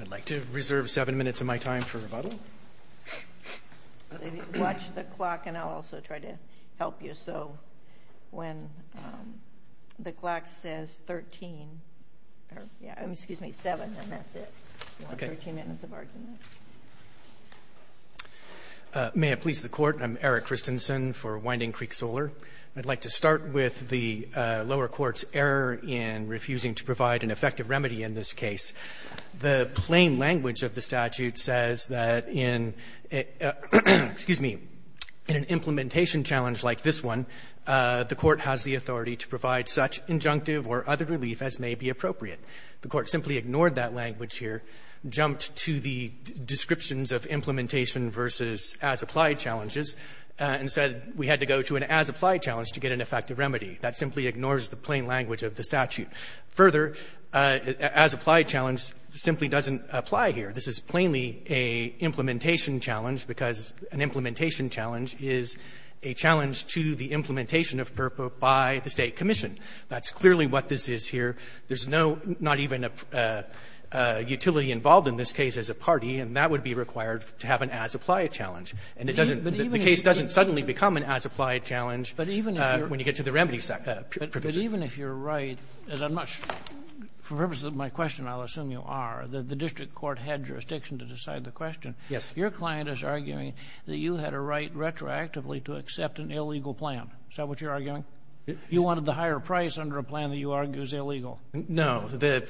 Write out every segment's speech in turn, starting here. I'd like to reserve seven minutes of my time for rebuttal. Watch the clock, and I'll also try to help you. So when the clock says seven, then that's it. You'll have 13 minutes of argument. May it please the Court, I'm Eric Christensen for Winding Creek Solar. I'd like to start with the lower court's error in refusing to provide an effective remedy in this case. The plain language of the statute says that in an implementation challenge like this one, the Court has the authority to provide such injunctive or other relief as may be appropriate. The Court simply ignored that language here, jumped to the descriptions of implementation versus as-applied challenges, and said we had to go to an as-applied challenge to get an effective remedy. That simply ignores the plain language of the statute. Further, as-applied challenge simply doesn't apply here. This is plainly a implementation challenge because an implementation challenge is a challenge to the implementation of FERPA by the State commission. That's clearly what this is here. There's no, not even a utility involved in this case as a party, and that would be required to have an as-applied challenge. And it doesn't the case doesn't suddenly become an as-applied challenge when you get to the remedy provision. But even if you're right, as I'm not sure, for purposes of my question, I'll assume you are, the district court had jurisdiction to decide the question. Yes. Your client is arguing that you had a right retroactively to accept an illegal plan. Is that what you're arguing? You wanted the higher price under a plan that you argue is illegal. No. The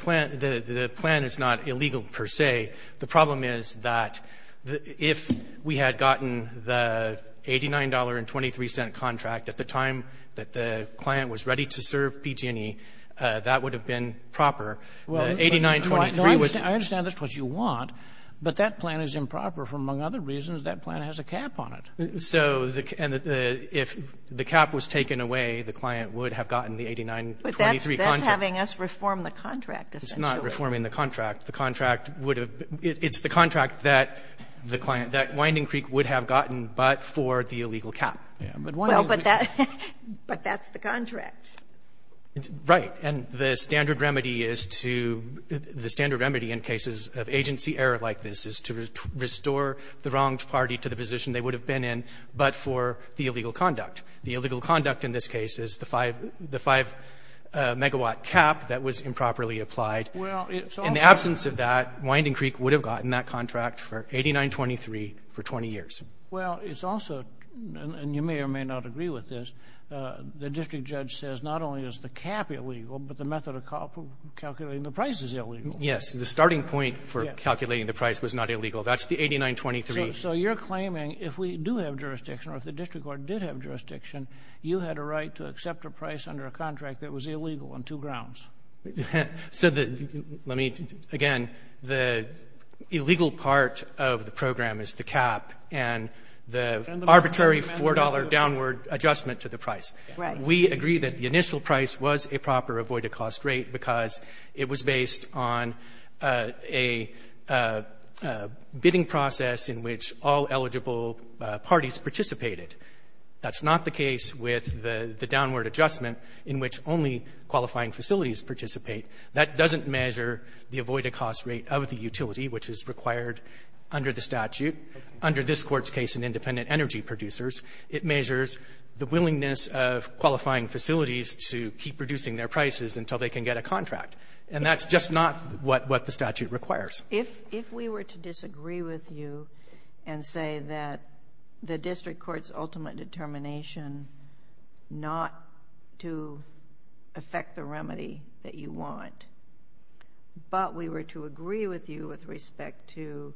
plan is not illegal, per se. The problem is that if we had gotten the $89.23 contract at the time that the client was ready to serve PG&E, that would have been proper. Well, I understand that's what you want, but that plan is improper for, among other reasons, that plan has a cap on it. So if the cap was taken away, the client would have gotten the $89.23 contract. But that's having us reform the contract, essentially. It's not reforming the contract. The contract would have been the contract that the client, that Winding Creek would have gotten, but for the illegal cap. Well, but that's the contract. Right. And the standard remedy is to the standard remedy in cases of agency error like this is to restore the wronged party to the position they would have been in, but for the illegal conduct. The illegal conduct in this case is the 5 megawatt cap that was improperly applied. Well, it's also the ---- In the absence of that, Winding Creek would have gotten that contract for $89.23 for 20 years. Well, it's also, and you may or may not agree with this, the district judge says not only is the cap illegal, but the method of calculating the price is illegal. Yes. The starting point for calculating the price was not illegal. That's the 89.23. So you're claiming if we do have jurisdiction or if the district court did have jurisdiction, you had a right to accept a price under a contract that was illegal on two grounds? So the ---- let me ---- again, the illegal part of the program is the cap and the arbitrary $4 downward adjustment to the price. Right. We agree that the initial price was a proper avoided-cost rate because it was based on a bidding process in which all eligible parties participated. That's not the case with the downward adjustment in which only qualifying facilities participate. That doesn't measure the avoided-cost rate of the utility, which is required under the statute. Under this Court's case in independent energy producers, it measures the willingness of qualifying facilities to keep reducing their prices until they can get a contract. And that's just not what the statute requires. If we were to disagree with you and say that the district court's ultimate determination not to affect the remedy that you want, but we were to agree with you with respect to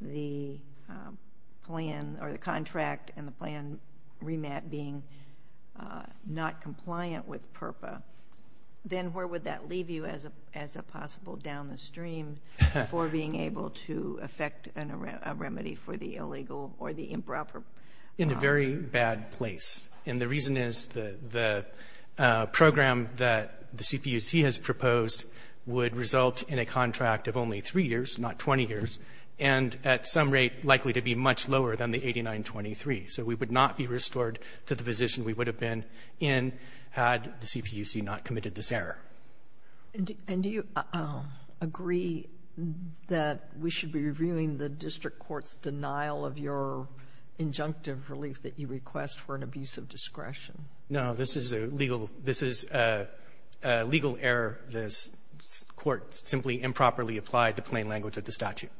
the plan or the contract and the plan remat being not compliant with PRPA, then where would that leave you as a possible down the stream for being able to affect a remedy for the illegal or the improper? In a very bad place. And the reason is the program that the CPUC has proposed would result in a contract of only 3 years, not 20 years, and at some rate likely to be much lower than the 8923. So we would not be restored to the position we would have been in had the CPUC not committed this error. And do you agree that we should be reviewing the district court's denial of your injunctive relief that you request for an abuse of discretion? No. This is a legal error. This Court simply improperly applied the plain language of the statute.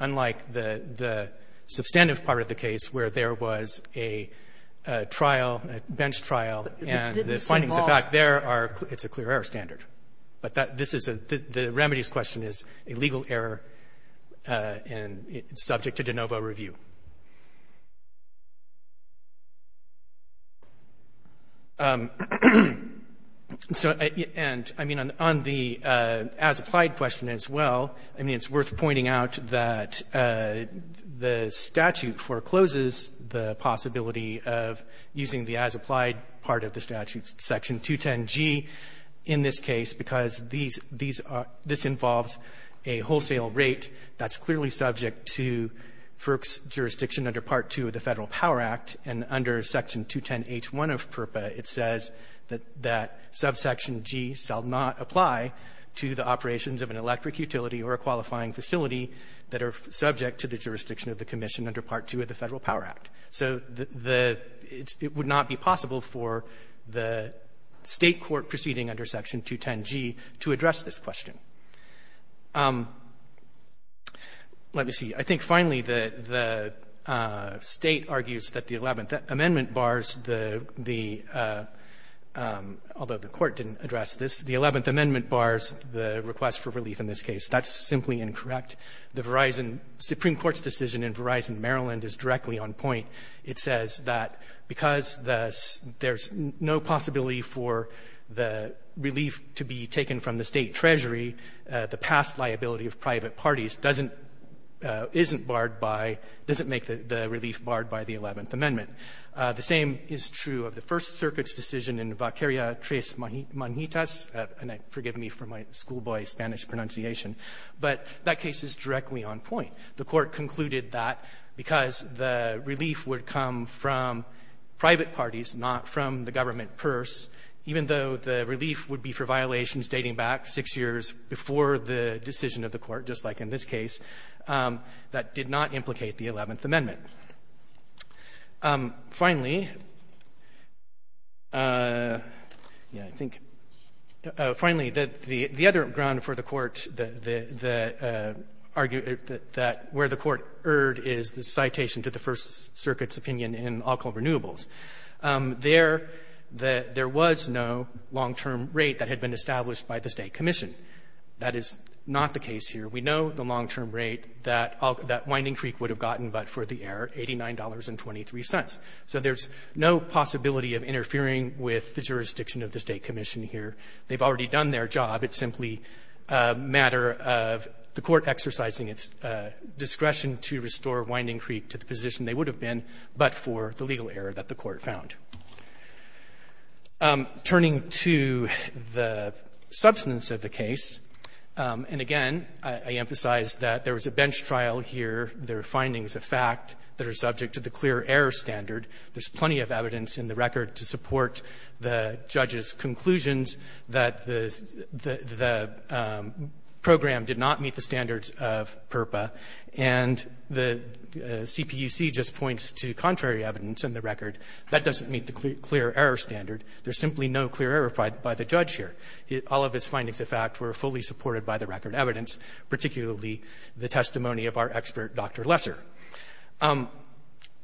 Unlike the substantive part of the case, where there was a trial, a bench trial, and the findings of fact there are — it's a clear error standard. But this is a — the remedies question is a legal error, and it's subject to de novo review. So — and, I mean, on the as-applied question as well, I mean, it's worth pointing out that the statute forecloses the possibility of using the as-applied part of the statute, Section 210G, in this case, because these are — this involves a wholesale rate that's clearly subject to FERC's jurisdiction under Part 2 of the Federal Power Act, and under Section 210H1 of PRPA, it says that subsection G shall not apply to the operations of an electric utility or a qualifying facility that are subject to the jurisdiction of the commission under Part 2 of the Federal Power Act. So the — it would not be possible for the State court proceeding under Section 210G to address this question. Let me see. I think, finally, the State argues that the Eleventh Amendment bars the — although the Court didn't address this, the Eleventh Amendment bars the request for relief in this case. That's simply incorrect. The Verizon — Supreme Court's decision in Verizon, Maryland, is directly on point. It says that because there's no possibility for the relief to be taken from the State Treasury, the past liability of private parties doesn't — isn't barred by — doesn't make the relief barred by the Eleventh Amendment. The same is true of the First Circuit's decision in Vaqueria-Tres Manjitas And I — forgive me for my schoolboy Spanish pronunciation. But that case is directly on point. The Court concluded that because the relief would come from private parties, not from the government purse, even though the relief would be for violations dating back six years before the decision of the Court, just like in this case, that did not implicate the Eleventh Amendment. Finally, yeah, I think — finally, the other ground for the Court, the — the argue that where the Court erred is the citation to the First Circuit's opinion in alcohol renewables. There — there was no long-term rate that had been established by the State commission. That is not the case here. We know the long-term rate that that Winding Creek would have gotten, but for the error, $89.23. So there's no possibility of interfering with the jurisdiction of the State commission here. They've already done their job. It's simply a matter of the Court exercising its discretion to restore Winding Creek to the position they would have been, but for the legal error that the Court found. Turning to the substance of the case, and again, I emphasize that there was a bench trial here. There are findings of fact that are subject to the clear error standard. There's plenty of evidence in the record to support the judge's conclusions that the — the program did not meet the standards of PURPA, and the CPUC just points to contrary evidence in the record. That doesn't meet the clear error standard. There's simply no clear error by the judge here. All of his findings of fact were fully supported by the record evidence, particularly the testimony of our expert, Dr. Lesser.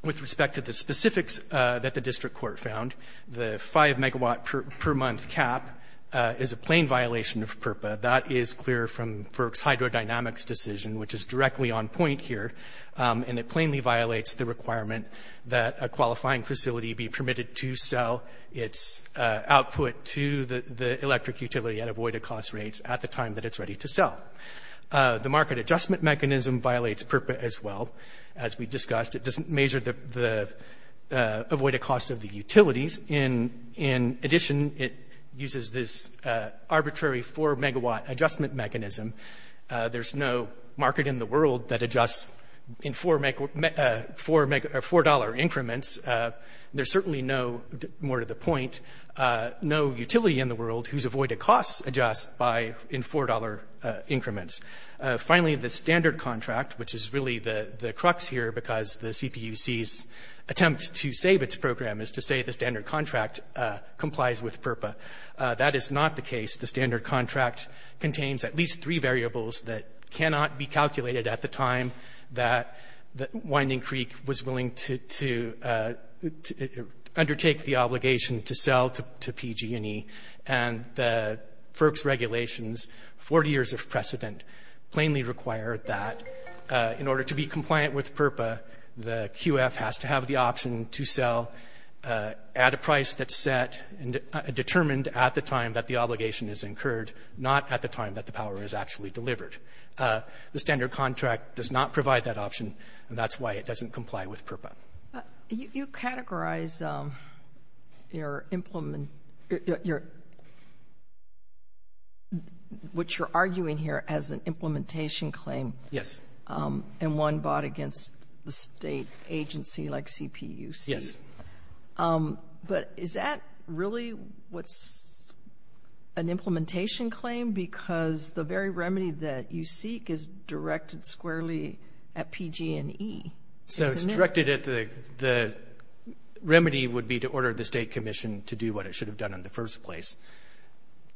With respect to the specifics that the district court found, the 5-megawatt per month cap is a plain violation of PURPA. That is clear from FERC's hydrodynamics decision, which is directly on point here, and it plainly violates the requirement that a qualifying facility be permitted to sell its output to the electric utility at avoided cost rates at the time that it's ready to sell. The market adjustment mechanism violates PURPA as well. As we discussed, it doesn't measure the avoided cost of the utilities. In addition, it uses this arbitrary 4-megawatt adjustment mechanism. There's no market in the world that adjusts in 4-megawatt — $4 increments. There's certainly no — more to the point, no utility in the world whose avoided costs adjust by — in $4 increments. Finally, the standard contract, which is really the crux here because the CPUC's attempt to save its program is to say the standard contract complies with PURPA. That is not the case. The standard contract contains at least three variables that cannot be calculated at the time that Winding Creek was willing to undertake the obligation to sell to PG&E. And the FERC's regulations, 40 years of precedent, plainly require that in order to be compliant with PURPA, the QF has to have the option to sell at a price that's set and determined at the time that the obligation is incurred, not at the time that the power is actually delivered. The standard contract does not provide that option, and that's why it doesn't comply with PURPA. Sotomayor, you categorize your implement — your — what you're arguing here as an implementation claim. Yes. And one bought against the State agency like CPUC. Yes. But is that really what's an implementation claim? Because the very remedy that you seek is directed squarely at PG&E, isn't it? Directed at the — the remedy would be to order the State commission to do what it should have done in the first place.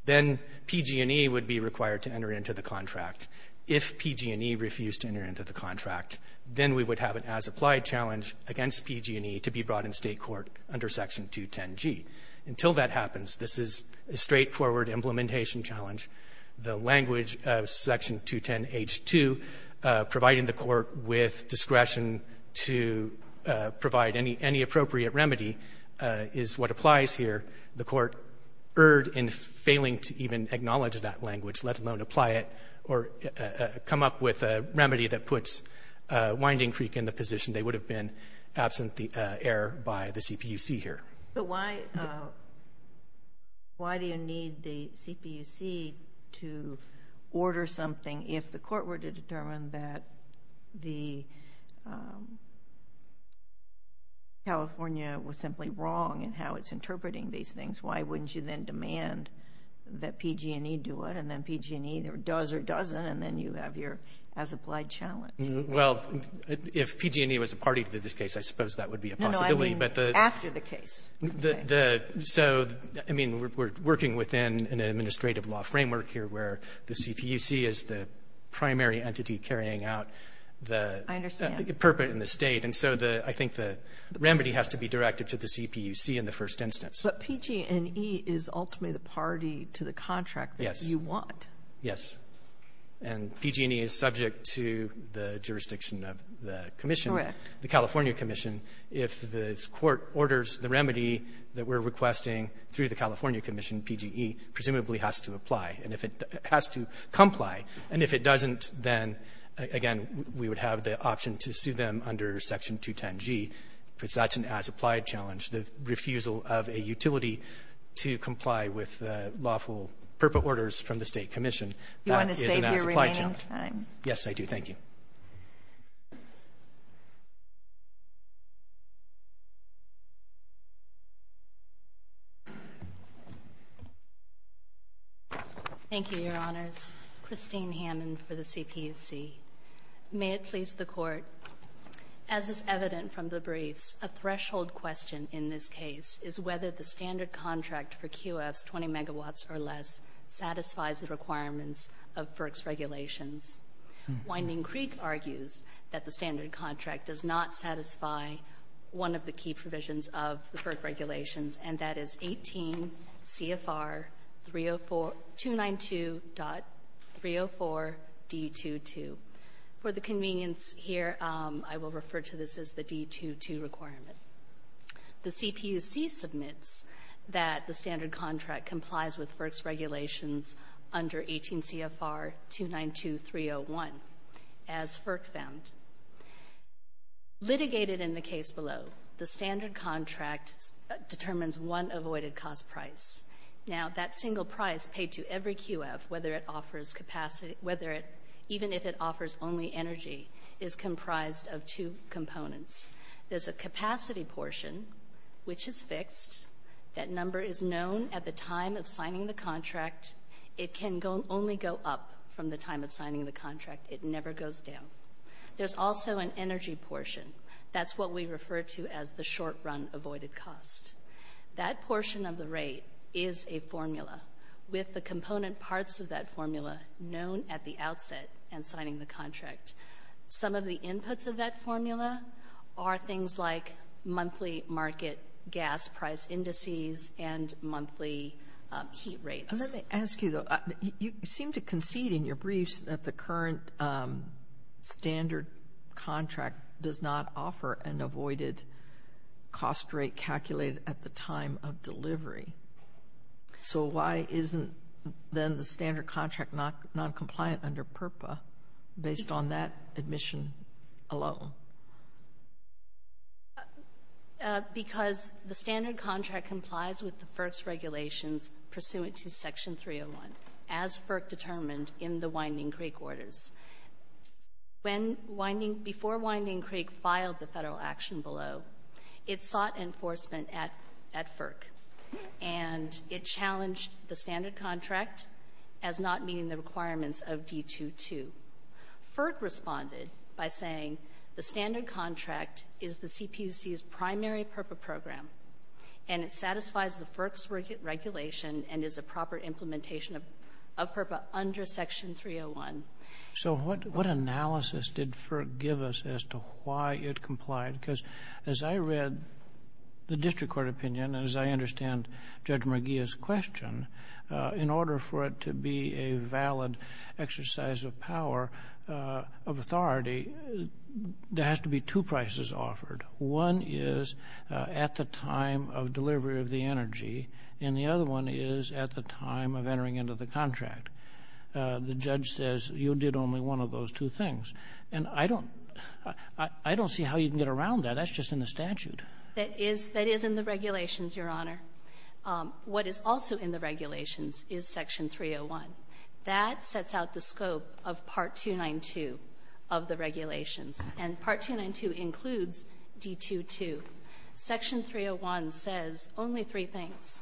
Then PG&E would be required to enter into the contract. If PG&E refused to enter into the contract, then we would have an as-applied challenge against PG&E to be brought in State court under Section 210g. Until that happens, this is a straightforward implementation challenge. The language of Section 210h-2, providing the Court with discretion to provide any — any appropriate remedy, is what applies here. The Court erred in failing to even acknowledge that language, let alone apply it or come up with a remedy that puts Winding Creek in the position they would have been absent the error by the CPUC here. But why — why do you need the CPUC to order something if the Court were to determine that the — California was simply wrong in how it's interpreting these things? Why wouldn't you then demand that PG&E do it, and then PG&E either does or doesn't, and then you have your as-applied challenge? Well, if PG&E was a party to this case, I suppose that would be a possibility. I mean, after the case, you could say. So, I mean, we're working within an administrative law framework here where the CPUC is the primary entity carrying out the — I understand. The purport in the State. And so the — I think the remedy has to be directed to the CPUC in the first instance. But PG&E is ultimately the party to the contract that you want. Yes. And PG&E is subject to the jurisdiction of the commission. Correct. The California commission, if the Court orders the remedy that we're requesting through the California commission, PG&E presumably has to apply. And if it has to comply, and if it doesn't, then, again, we would have the option to sue them under Section 210G, because that's an as-applied challenge. The refusal of a utility to comply with lawful purpose orders from the State commission. You want to save your remaining time. Yes, I do. Thank you. Thank you, Your Honors. Christine Hammond for the CPUC. May it please the Court, as is evident from the briefs, a threshold question in this case is whether the standard contract for QFs, 20 megawatts or less, satisfies the requirements of FERC's regulations. Winding Creek argues that the standard contract does not satisfy one of the key provisions of the FERC regulations, and that is 18 CFR 292.304D22. For the convenience here, I will refer to this as the D22 requirement. The CPUC submits that the standard contract complies with FERC's regulations under 18 CFR 292.301, as FERC found. Litigated in the case below, the standard contract determines one avoided cost price. Now, that single price paid to every QF, whether it offers capacity — whether it — even if it offers only energy, is comprised of two components. There's a capacity portion, which is fixed. That number is known at the time of signing the contract. It can only go up from the time of signing the contract. It never goes down. There's also an energy portion. That's what we refer to as the short-run avoided cost. That portion of the rate is a formula, with the component parts of that formula known at the outset and signing the contract. Some of the inputs of that formula are things like monthly market gas price indices and monthly heat rates. Let me ask you, though. You seem to concede in your briefs that the current standard contract does not offer an avoided cost rate calculated at the time of delivery. So why isn't, then, the standard contract noncompliant under PRPA based on that admission alone? Because the standard contract complies with the FERC's regulations pursuant to Section 301, as FERC determined in the Winding Creek Orders. When Winding — before Winding Creek filed the Federal action below, it sought enforcement at — at FERC. And it challenged the standard contract as not meeting the requirements of D-2-2. FERC responded by saying the standard contract is the CPUC's primary PRPA program, and it satisfies the FERC's regulation and is a proper implementation of — of PRPA under Section 301. So what — what analysis did FERC give us as to why it complied? Because as I read the district court opinion, as I understand Judge McGeeh's question, in order for it to be a valid exercise of power, of authority, there has to be two prices offered. One is at the time of delivery of the energy, and the other one is at the time of entering into the contract. The judge says you did only one of those two things. And I don't — I don't see how you can get around that. That's just in the statute. That is — that is in the regulations, Your Honor. What is also in the regulations is Section 301. That sets out the scope of Part 292 of the regulations. And Part 292 includes D-2-2. Section 301 says only three things,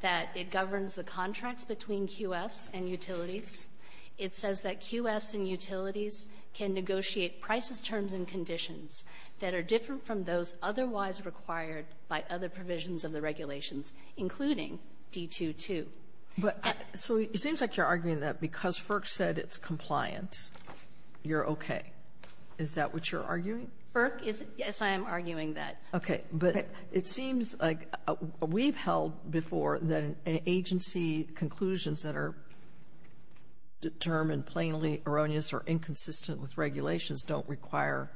that it governs the contracts between QFs and utilities. It says that QFs and utilities can negotiate prices, terms, and conditions that are different from those otherwise required by other provisions of the regulations, including D-2-2. But — So it seems like you're arguing that because FERC said it's compliant, you're okay. Is that what you're arguing? FERC is — yes, I am arguing that. Okay. But it seems like we've held before that an agency conclusions that are — that determine plainly erroneous or inconsistent with regulations don't require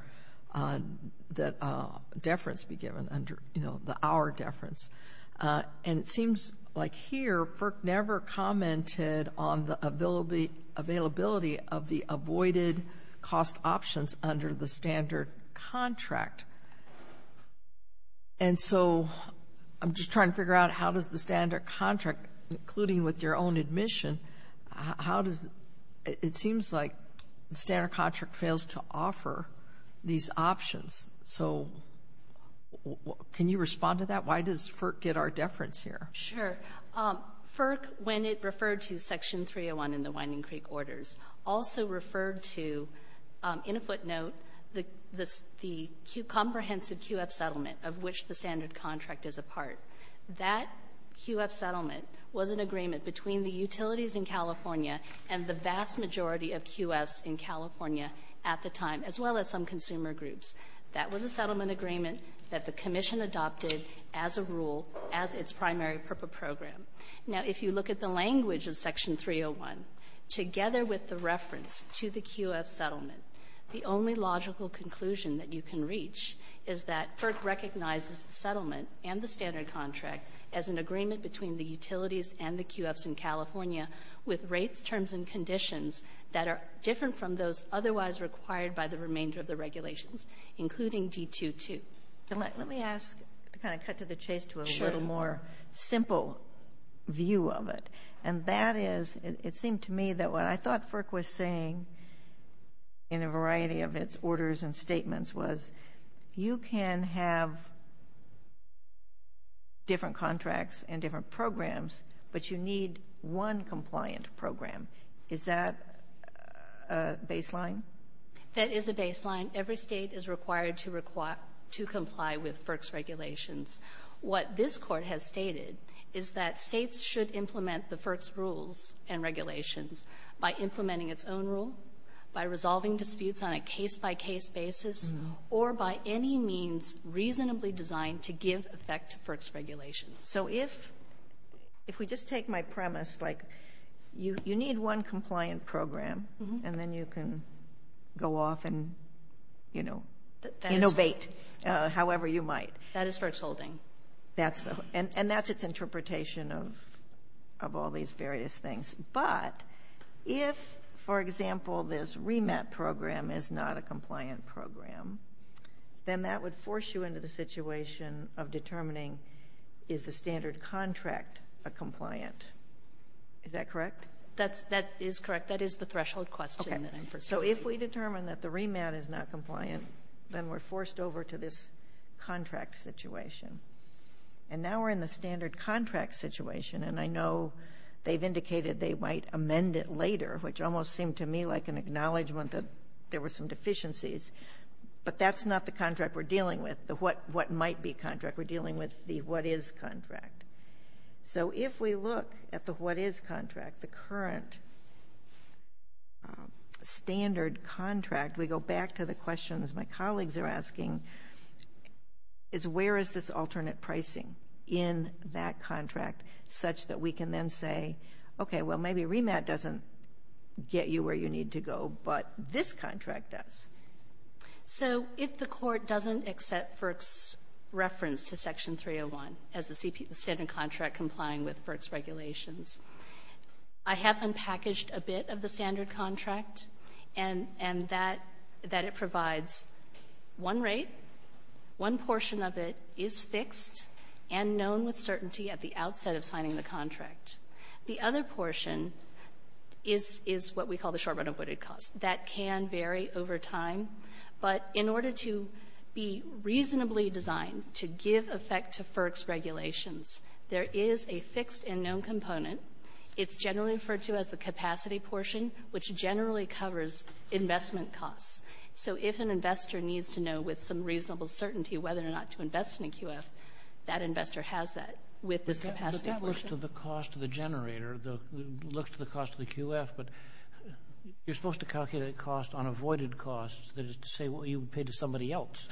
that deference be given under, you know, the hour deference. And it seems like here, FERC never commented on the availability of the avoided cost options under the standard contract. And so I'm just trying to figure out how does the standard contract, including with your own admission, how does — it seems like the standard contract fails to offer these options. So can you respond to that? Why does FERC get our deference here? Sure. FERC, when it referred to Section 301 in the Winding Creek Orders, also referred to, in a footnote, the comprehensive QF settlement of which the standard contract is a part. That QF settlement was an agreement between the utilities in California and the vast majority of QFs in California at the time, as well as some consumer groups. That was a settlement agreement that the Commission adopted as a rule as its primary program. Now, if you look at the language of Section 301, together with the reference to the QF settlement, the only logical conclusion that you can reach is that FERC recognizes the settlement and the standard contract as an agreement between the utilities and the QFs in California with rates, terms, and conditions that are different from those otherwise required by the remainder of the regulations, including D-2-2. Let me ask — to kind of cut to the chase to a little more simple view of it. And that is — it seemed to me that what I thought FERC was saying in a variety of its orders and statements was, you can have different contracts and different programs, but you need one compliant program. Is that a baseline? That is a baseline. Every State is required to comply with FERC's regulations. What this Court has stated is that States should implement the FERC's rules and by any means reasonably designed to give effect to FERC's regulations. So if — if we just take my premise, like, you need one compliant program, and then you can go off and, you know, innovate however you might. That is FERC's holding. And that's its interpretation of all these various things. But if, for example, this remat program is not a compliant program, then that would force you into the situation of determining, is the standard contract a compliant? Is that correct? That's — that is correct. That is the threshold question that I'm pursuing. So if we determine that the remat is not compliant, then we're forced over to this contract situation. And now we're in the standard contract situation. And I know they've indicated they might amend it later, which almost seemed to me like an acknowledgement that there were some deficiencies. But that's not the contract we're dealing with, the what might be contract. We're dealing with the what is contract. So if we look at the what is contract, the current standard contract, we go back to the pricing in that contract such that we can then say, okay, well, maybe remat doesn't get you where you need to go, but this contract does. So if the Court doesn't accept FERC's reference to Section 301 as the standard contract complying with FERC's regulations, I have unpackaged a bit of the standard contract and — and that — that it provides one rate, one portion of it is fixed and known with certainty at the outset of signing the contract. The other portion is — is what we call the short run avoided cost. That can vary over time. But in order to be reasonably designed to give effect to FERC's regulations, there is a fixed and known component. It's generally referred to as the capacity portion, which generally covers investment costs. So if an investor needs to know with some reasonable certainty whether or not to invest in a QF, that investor has that with this capacity portion. But that looks to the cost of the generator. The — looks to the cost of the QF. But you're supposed to calculate cost on avoided costs that is to say what you would pay to somebody else.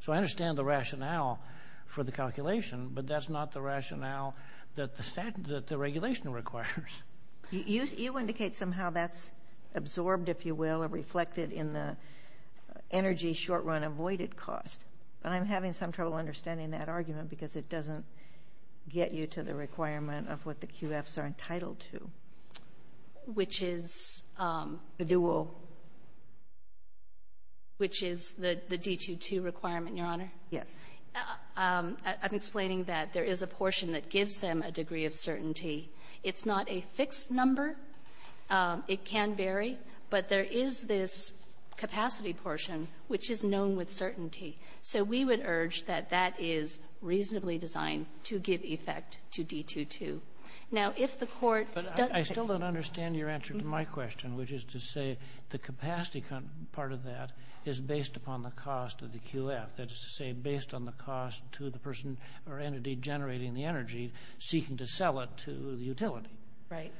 So I understand the rationale for the calculation, but that's not the rationale that the — that the regulation requires. GOTTLIEB You — you indicate somehow that's absorbed, if you will, or reflected in the energy short run avoided cost. But I'm having some trouble understanding that argument because it doesn't get you to the requirement of what the QFs are entitled to. MS. WHEELER Which is the dual — which is the D-2-2 requirement, Your Honor? MS. GOTTLIEB Yes. MS. WHEELER That gives them a degree of certainty. It's not a fixed number. It can vary. But there is this capacity portion, which is known with certainty. So we would urge that that is reasonably designed to give effect to D-2-2. Now, if the Court — KING But I still don't understand your answer to my question, which is to say the capacity part of that is based upon the cost of the QF, that is to say based on the cost to the person or entity generating the energy seeking to sell it to the utility. WHEELER Right. KING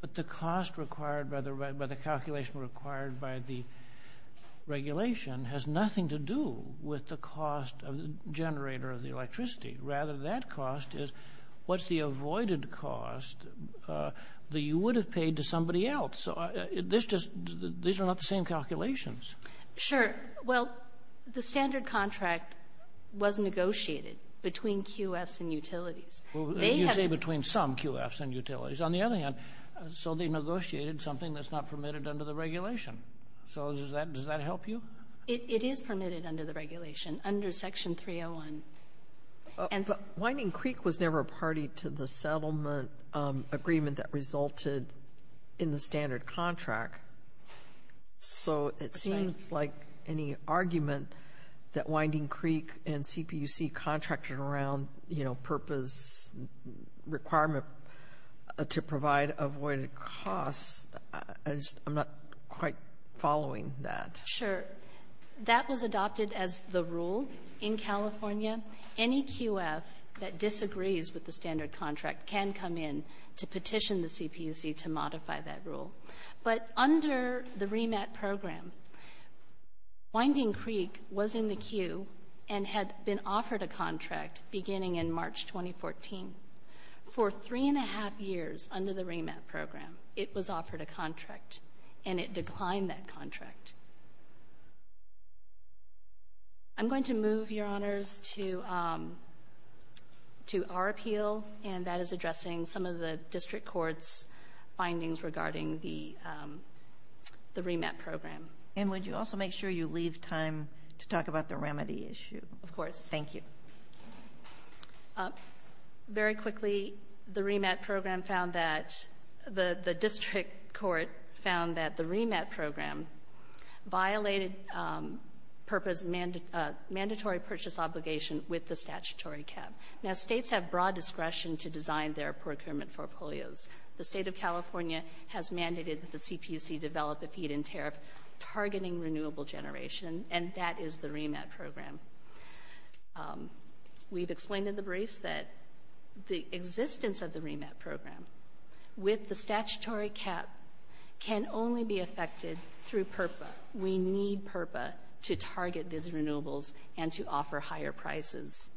But the cost required by the — by the calculation required by the regulation has nothing to do with the cost of the generator of the electricity. Rather, that cost is what's the avoided cost that you would have paid to somebody else. So this just — these are not the same calculations. MS. WHEELER It was negotiated between QFs and utilities. They have — KING You say between some QFs and utilities. On the other hand, so they negotiated something that's not permitted under the regulation. So does that — does that help you? MS. WHEELER It is permitted under the regulation, under Section 301. MS. KING But Winding Creek was never a party to the settlement agreement that resulted in the standard contract. So it seems like any argument that Winding Creek and CPUC contracted around, you know, purpose, requirement to provide avoided costs, I just — I'm not quite following that. WHEELER Sure. That was adopted as the rule in California. Any QF that disagrees with the standard contract can come in to petition the CPUC to modify that rule. But under the REMAT program, Winding Creek was in the queue and had been offered a contract beginning in March 2014. For three and a half years under the REMAT program, it was offered a contract, and it declined that contract. I'm going to move, Your Honors, to our appeal, and that is addressing some of the district court's findings regarding the REMAT program. MS. KING And would you also make sure you leave time to talk about the remedy issue? MS. WHEELER Of course. MS. KING Thank you. MS. WHEELER Very quickly, the REMAT program found that — the district court found that the REMAT program violated purpose — mandatory purchase obligation with the statutory cap. Now, states have broad discretion to design their procurement portfolios. The state of California has mandated that the CPUC develop a feed-in tariff targeting renewable generation, and that is the REMAT program. We've explained in the briefs that the existence of the REMAT program with the statutory cap can only be affected through PURPA. We need PURPA to target these renewables and to offer higher prices.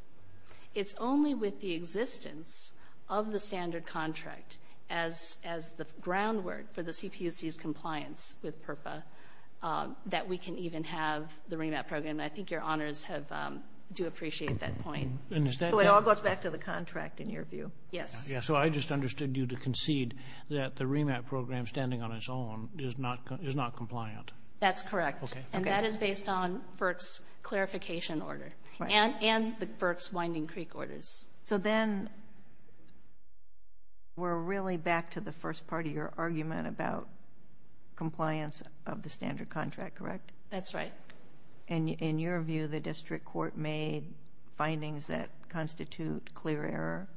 It's only with the existence of the standard contract as the groundwork for the CPUC's compliance with PURPA that we can even have the REMAT program. I think Your Honors have — do appreciate that point. MS. KING So it all goes back to the contract, in your view? WHEELER Yes. MR. RUBENSTEIN So I just understood you to concede that the REMAT program, standing on its own, is not — is not compliant. WHEELER That's correct. MR. MS. WHEELER And that is based on FERC's clarification order. MS. KING Right. WHEELER And FERC's Winding Creek orders. MS. KING So then we're really back to the first part of your argument about compliance of the standard contract, correct? WHEELER That's right. MS. KING And in your view, the district court made findings that constitute clear error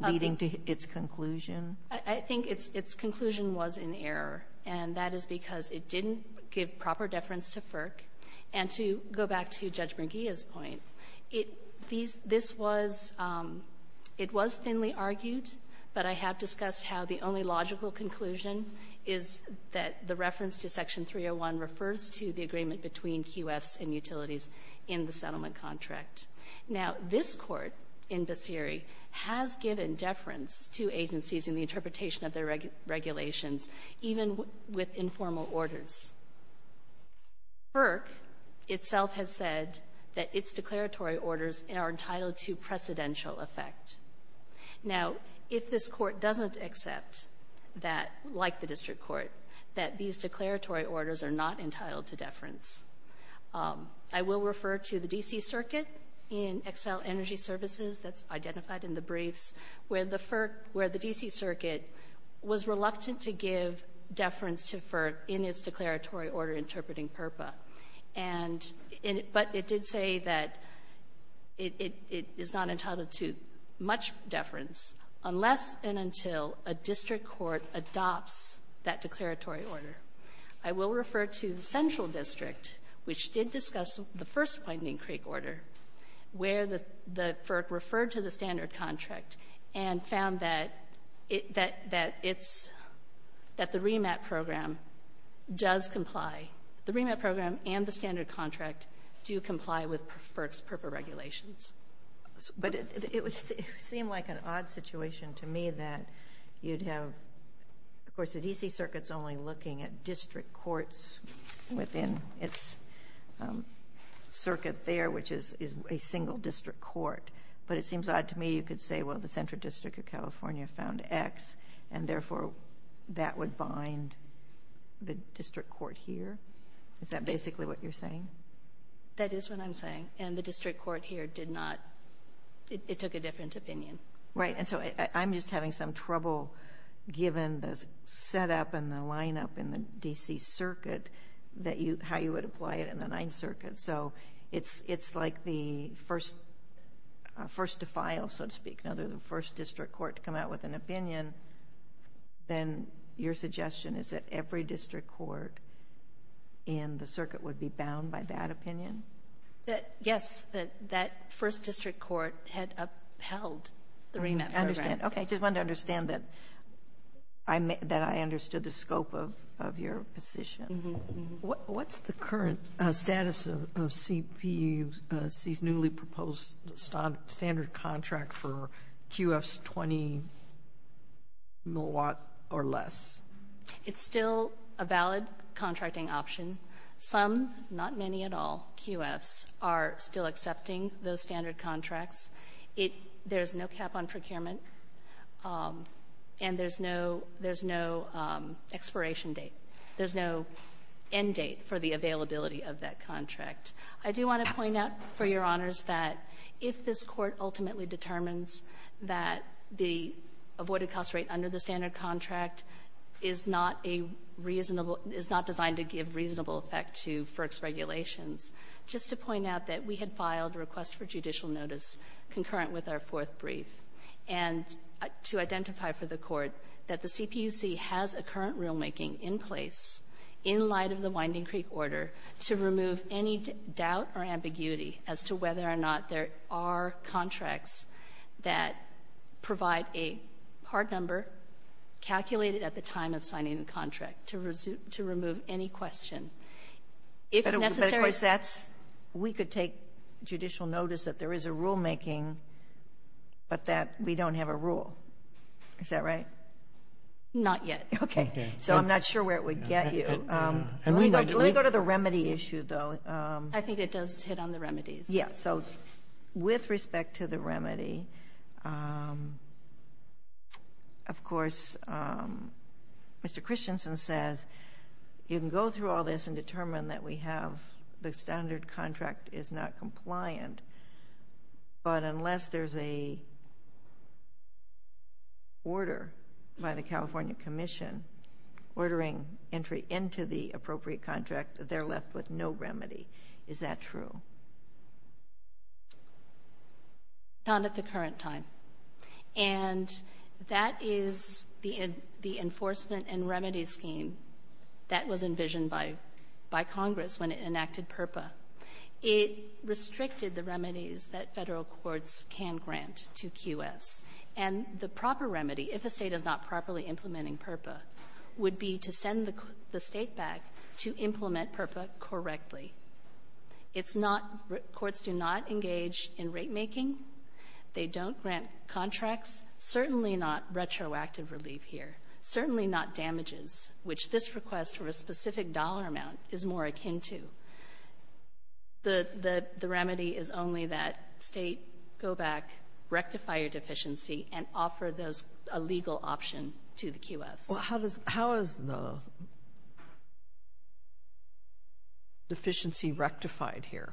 leading to its conclusion? WHEELER I think its conclusion was in error. And that is because it didn't give proper deference to FERC. And to go back to Judge McGeeh's point, it — these — this was — it was thinly argued, but I have discussed how the only logical conclusion is that the reference to Section 301 refers to the agreement between QFs and utilities in the settlement contract. Now, this Court in Basiri has given deference to agencies in the interpretation of their regulations, even with informal orders. FERC itself has said that its declaratory orders are entitled to precedential effect. Now, if this Court doesn't accept that, like the district court, that these declaratory orders are not entitled to deference, I will refer to the D.C. Circuit in Xcel Energy Services that's identified in the briefs where the — where the D.C. Circuit was reluctant to give deference to FERC in its declaratory order interpreting PURPA. And in — but it did say that it — it is not entitled to much deference unless and until a district court adopts that declaratory order. I will refer to the central district, which did discuss the first Widening Creek order, where the — the FERC referred to the standard contract and found that it — that it's — that the REMAP program does comply. The REMAP program and the standard contract do comply with FERC's PURPA regulations. But it would seem like an odd situation to me that you'd have — of course, the D.C. Circuit's only looking at district courts within its circuit there, which is a single district court. But it seems odd to me you could say, well, the Central District of California found X, and therefore, that would bind the district court here. Is that basically what you're saying? That is what I'm saying. And the district court here did not — it took a different opinion. Right. And so I'm just having some trouble, given the setup and the lineup in the D.C. Circuit, that you — how you would apply it in the Ninth Circuit. So it's — it's like the first — first to file, so to speak, now they're the first district court to come out with an opinion. Then your suggestion is that every district court in the circuit would be bound by that opinion? Yes. That — that first district court had upheld the REMAP program. Okay. Just wanted to understand that I understood the scope of your position. What's the current status of CPUC's newly proposed standard contract for QFs 20-milliwatt or less? It's still a valid contracting option. Some — not many at all — QFs are still accepting those standard contracts. It — there's no cap on procurement, and there's no — there's no expiration date. There's no end date for the availability of that contract. I do want to point out, for Your Honors, that if this Court ultimately determines that the avoided-cost rate under the standard contract is not a reasonable — is not designed to give reasonable effect to FERC's regulations, just to point out that we had filed a request for judicial notice concurrent with our fourth brief, and to identify for the Court that the CPUC has a current rulemaking in place in light of the Winding Creek order to remove any doubt or ambiguity as to whether or not there are contracts that provide a hard number calculated at the time of signing the contract to remove any question. If necessary — So we can take judicial notice that there is a rulemaking, but that we don't have a rule. Is that right? Not yet. Okay. So I'm not sure where it would get you. And we might — Let me go to the remedy issue, though. I think it does hit on the remedies. Yes. So with respect to the remedy, of course, Mr. Christensen says you can go through all this and determine that we have — the standard contract is not compliant, but unless there's a order by the California Commission ordering entry into the appropriate contract, they're left with no remedy. Is that true? Not at the current time. And that is the enforcement and remedy scheme that was envisioned by Congress when it enacted PRPA. It restricted the remedies that Federal courts can grant to QS. And the proper remedy, if a State is not properly implementing PURPA, would be to send the State back to implement PURPA correctly. It's not — courts do not engage in ratemaking. They don't grant contracts, certainly not retroactive relief here, certainly not damages, which this request for a specific dollar amount is more akin to. The remedy is only that State go back, rectify your deficiency, and offer those — a legal option to the QFs. Well, how does — how is the deficiency rectified here?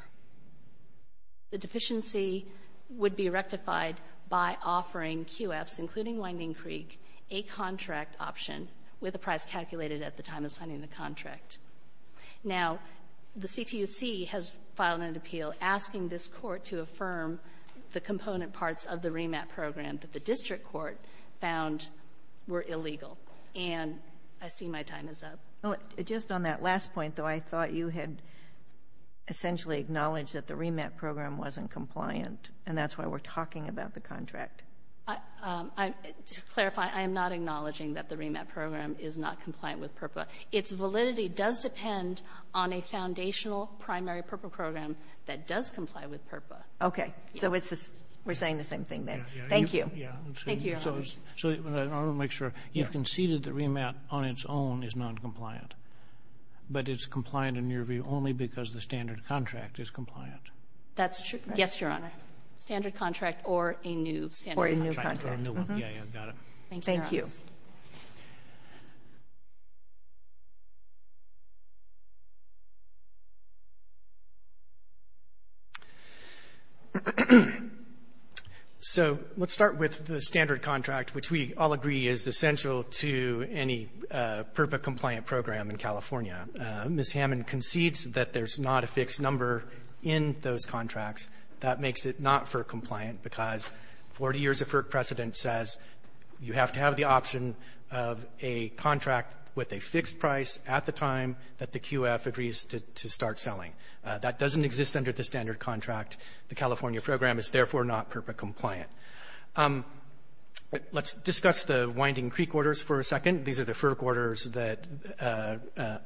The deficiency would be rectified by offering QFs, including Winding Creek, a contract option with a price calculated at the time of signing the contract. Now, the CPUC has filed an appeal asking this Court to affirm the component parts of the remat program that the district court found were illegal. And I see my time is up. Well, just on that last point, though, I thought you had essentially acknowledged that the remat program wasn't compliant, and that's why we're talking about the contract. I'm — to clarify, I am not acknowledging that the remat program is not compliant with PURPA. Its validity does depend on a foundational primary PURPA program that does comply with PURPA. Okay. So it's a — we're saying the same thing, then. Thank you. Thank you, Your Honors. So I want to make sure. You conceded the remat on its own is noncompliant. But it's compliant in your view only because the standard contract is compliant. That's true. Yes, Your Honor. Standard contract or a new standard contract. Or a new contract. Or a new one. Yeah, yeah. Got it. Thank you, Your Honors. Thank you. So let's start with the standard contract, which we all agree is essential to any PURPA compliant program in California. Ms. Hammond concedes that there's not a fixed number in those contracts. That makes it not FERC compliant because 40 years of FERC precedent says you have to have the option of a contract with a fixed price at the time that the QF agrees to start selling. That doesn't exist under the standard contract. The California program is, therefore, not PURPA compliant. Let's discuss the Winding Creek orders for a second. These are the FERC orders that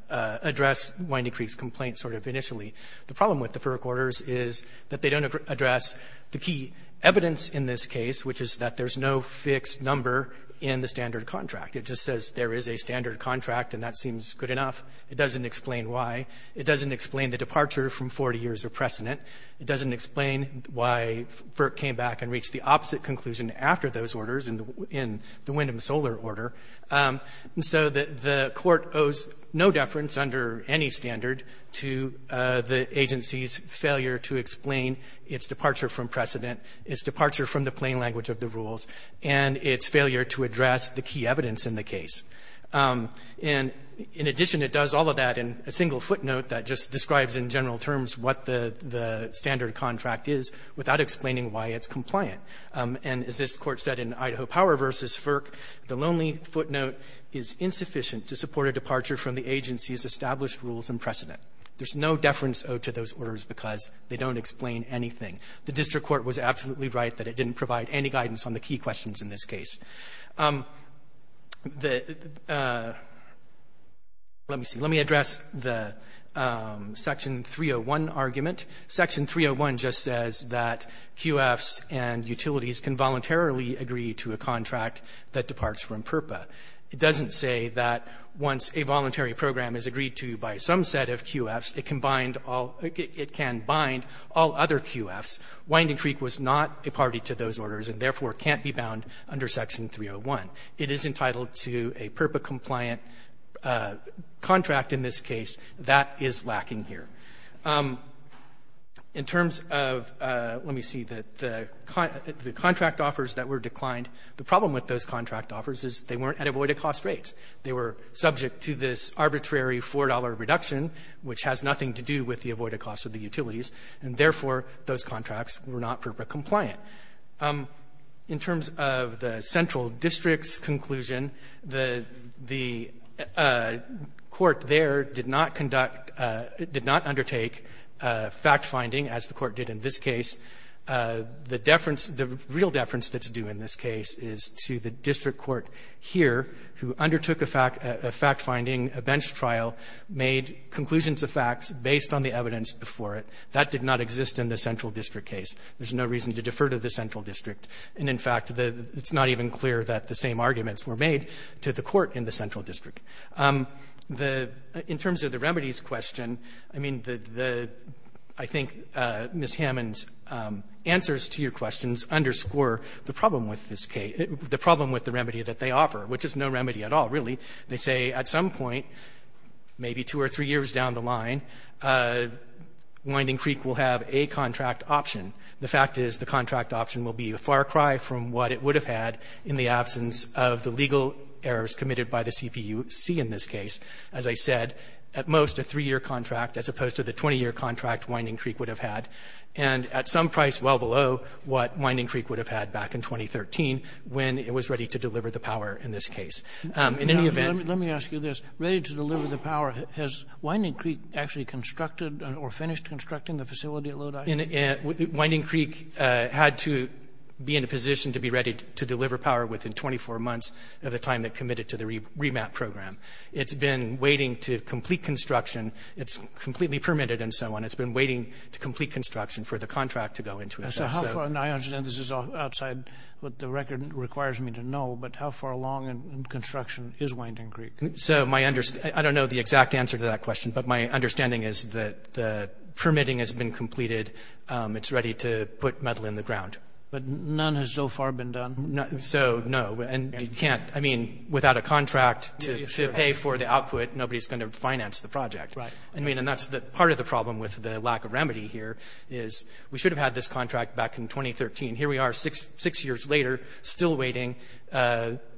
address Winding Creek's complaint sort of initially. The problem with the FERC orders is that they don't address the key evidence in this case, which is that there's no fixed number in the standard contract. It just says there is a standard contract, and that seems good enough. It doesn't explain why. It doesn't explain the departure from 40 years of precedent. It doesn't explain why FERC came back and reached the opposite conclusion after those orders in the Windham-Soler order. And so the Court owes no deference under any standard to the agency's failure to explain its departure from precedent, its departure from the plain language of the rules, and its failure to address the key evidence in the case. And in addition, it does all of that in a single footnote that just describes in general terms what the standard contract is without explaining why it's compliant. And as this Court said in Idaho Power v. FERC, the lonely footnote is insufficient to support a departure from the agency's The district court was absolutely right that it didn't provide any guidance on the key questions in this case. The --" let me see. Let me address the Section 301 argument. Section 301 just says that QFs and utilities can voluntarily agree to a contract that departs from PURPA. It doesn't say that once a voluntary program is agreed to by some set of QFs, it can bind all other QFs. Winding Creek was not a party to those orders and, therefore, can't be bound under Section 301. It is entitled to a PURPA-compliant contract in this case. That is lacking here. In terms of --" let me see. The contract offers that were declined. The problem with those contract offers is they weren't at avoided-cost rates. They were subject to this arbitrary $4 reduction, which has nothing to do with the utilities, and, therefore, those contracts were not PURPA-compliant. In terms of the central district's conclusion, the court there did not conduct or did not undertake fact-finding, as the Court did in this case. The deference, the real deference that's due in this case is to the district court here, who undertook a fact-finding, a bench trial, made conclusions of facts based on the evidence before it. That did not exist in the central district case. There's no reason to defer to the central district. And, in fact, the --" it's not even clear that the same arguments were made to the court in the central district. The --" in terms of the remedies question, I mean, the --" I think Ms. Hammond's answers to your questions underscore the problem with this case, the problem with the remedy that they offer, which is no remedy at all, really. They say at some point, maybe two or three years down the line, Winding Creek will have a contract option. The fact is the contract option will be a far cry from what it would have had in the absence of the legal errors committed by the CPUC in this case. As I said, at most, a three-year contract, as opposed to the 20-year contract Winding Creek would have had, and at some price well below what Winding Creek would have had back in 2013 when it was ready to deliver the power in this case. In any event --" Kennedy, let me ask you this. Ready to deliver the power, has Winding Creek actually constructed or finished constructing the facility at Lodi? Winding Creek had to be in a position to be ready to deliver power within 24 months of the time it committed to the remap program. It's been waiting to complete construction. It's completely permitted and so on. It's been waiting to complete construction for the contract to go into effect. So how far --" and I understand this is outside what the record requires me to know, but how far along in construction is Winding Creek? So my understanding --" I don't know the exact answer to that question, but my understanding is that the permitting has been completed. It's ready to put metal in the ground. But none has so far been done? So, no. And you can't --" I mean, without a contract to pay for the output, nobody's going to finance the project. Right. I mean, and that's the part of the problem with the lack of remedy here is we should have had this contract back in 2013. Here we are six years later still waiting,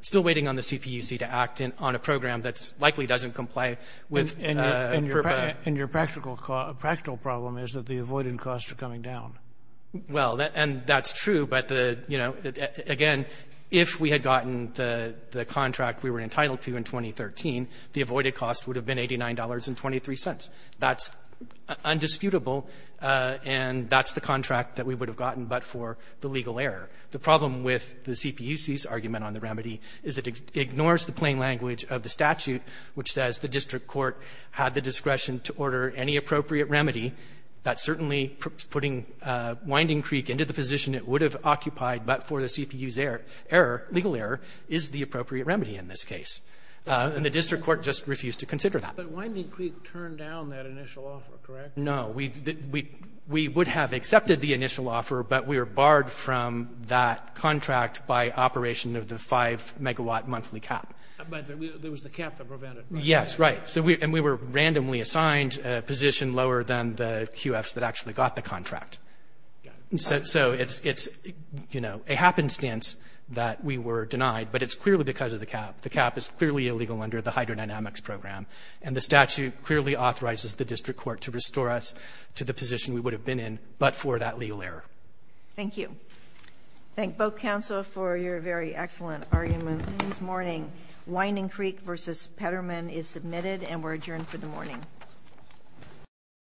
still waiting on the CPUC to act on a program that's likely doesn't comply with a permit. And your practical problem is that the avoided costs are coming down. Well, and that's true. But, you know, again, if we had gotten the contract we were entitled to in 2013, the avoided cost would have been $89.23. That's undisputable. And that's the contract that we would have gotten, but for the legal error. The problem with the CPUC's argument on the remedy is it ignores the plain language of the statute which says the district court had the discretion to order any appropriate remedy that certainly putting Winding Creek into the position it would have occupied, but for the CPU's error, legal error, is the appropriate remedy in this case. And the district court just refused to consider that. But Winding Creek turned down that initial offer, correct? No. We would have accepted the initial offer, but we were barred from that contract by operation of the 5-megawatt monthly cap. But there was the cap that prevented it. Yes, right. And we were randomly assigned a position lower than the QFs that actually got the contract. So it's, you know, a happenstance that we were denied, but it's clearly because of the cap. The cap is clearly illegal under the hydrodynamics program. And the statute clearly authorizes the district court to restore us to the position we would have been in, but for that legal error. Thank you. Thank both counsel for your very excellent argument this morning. Winding Creek v. Petterman is submitted and we're adjourned for the morning.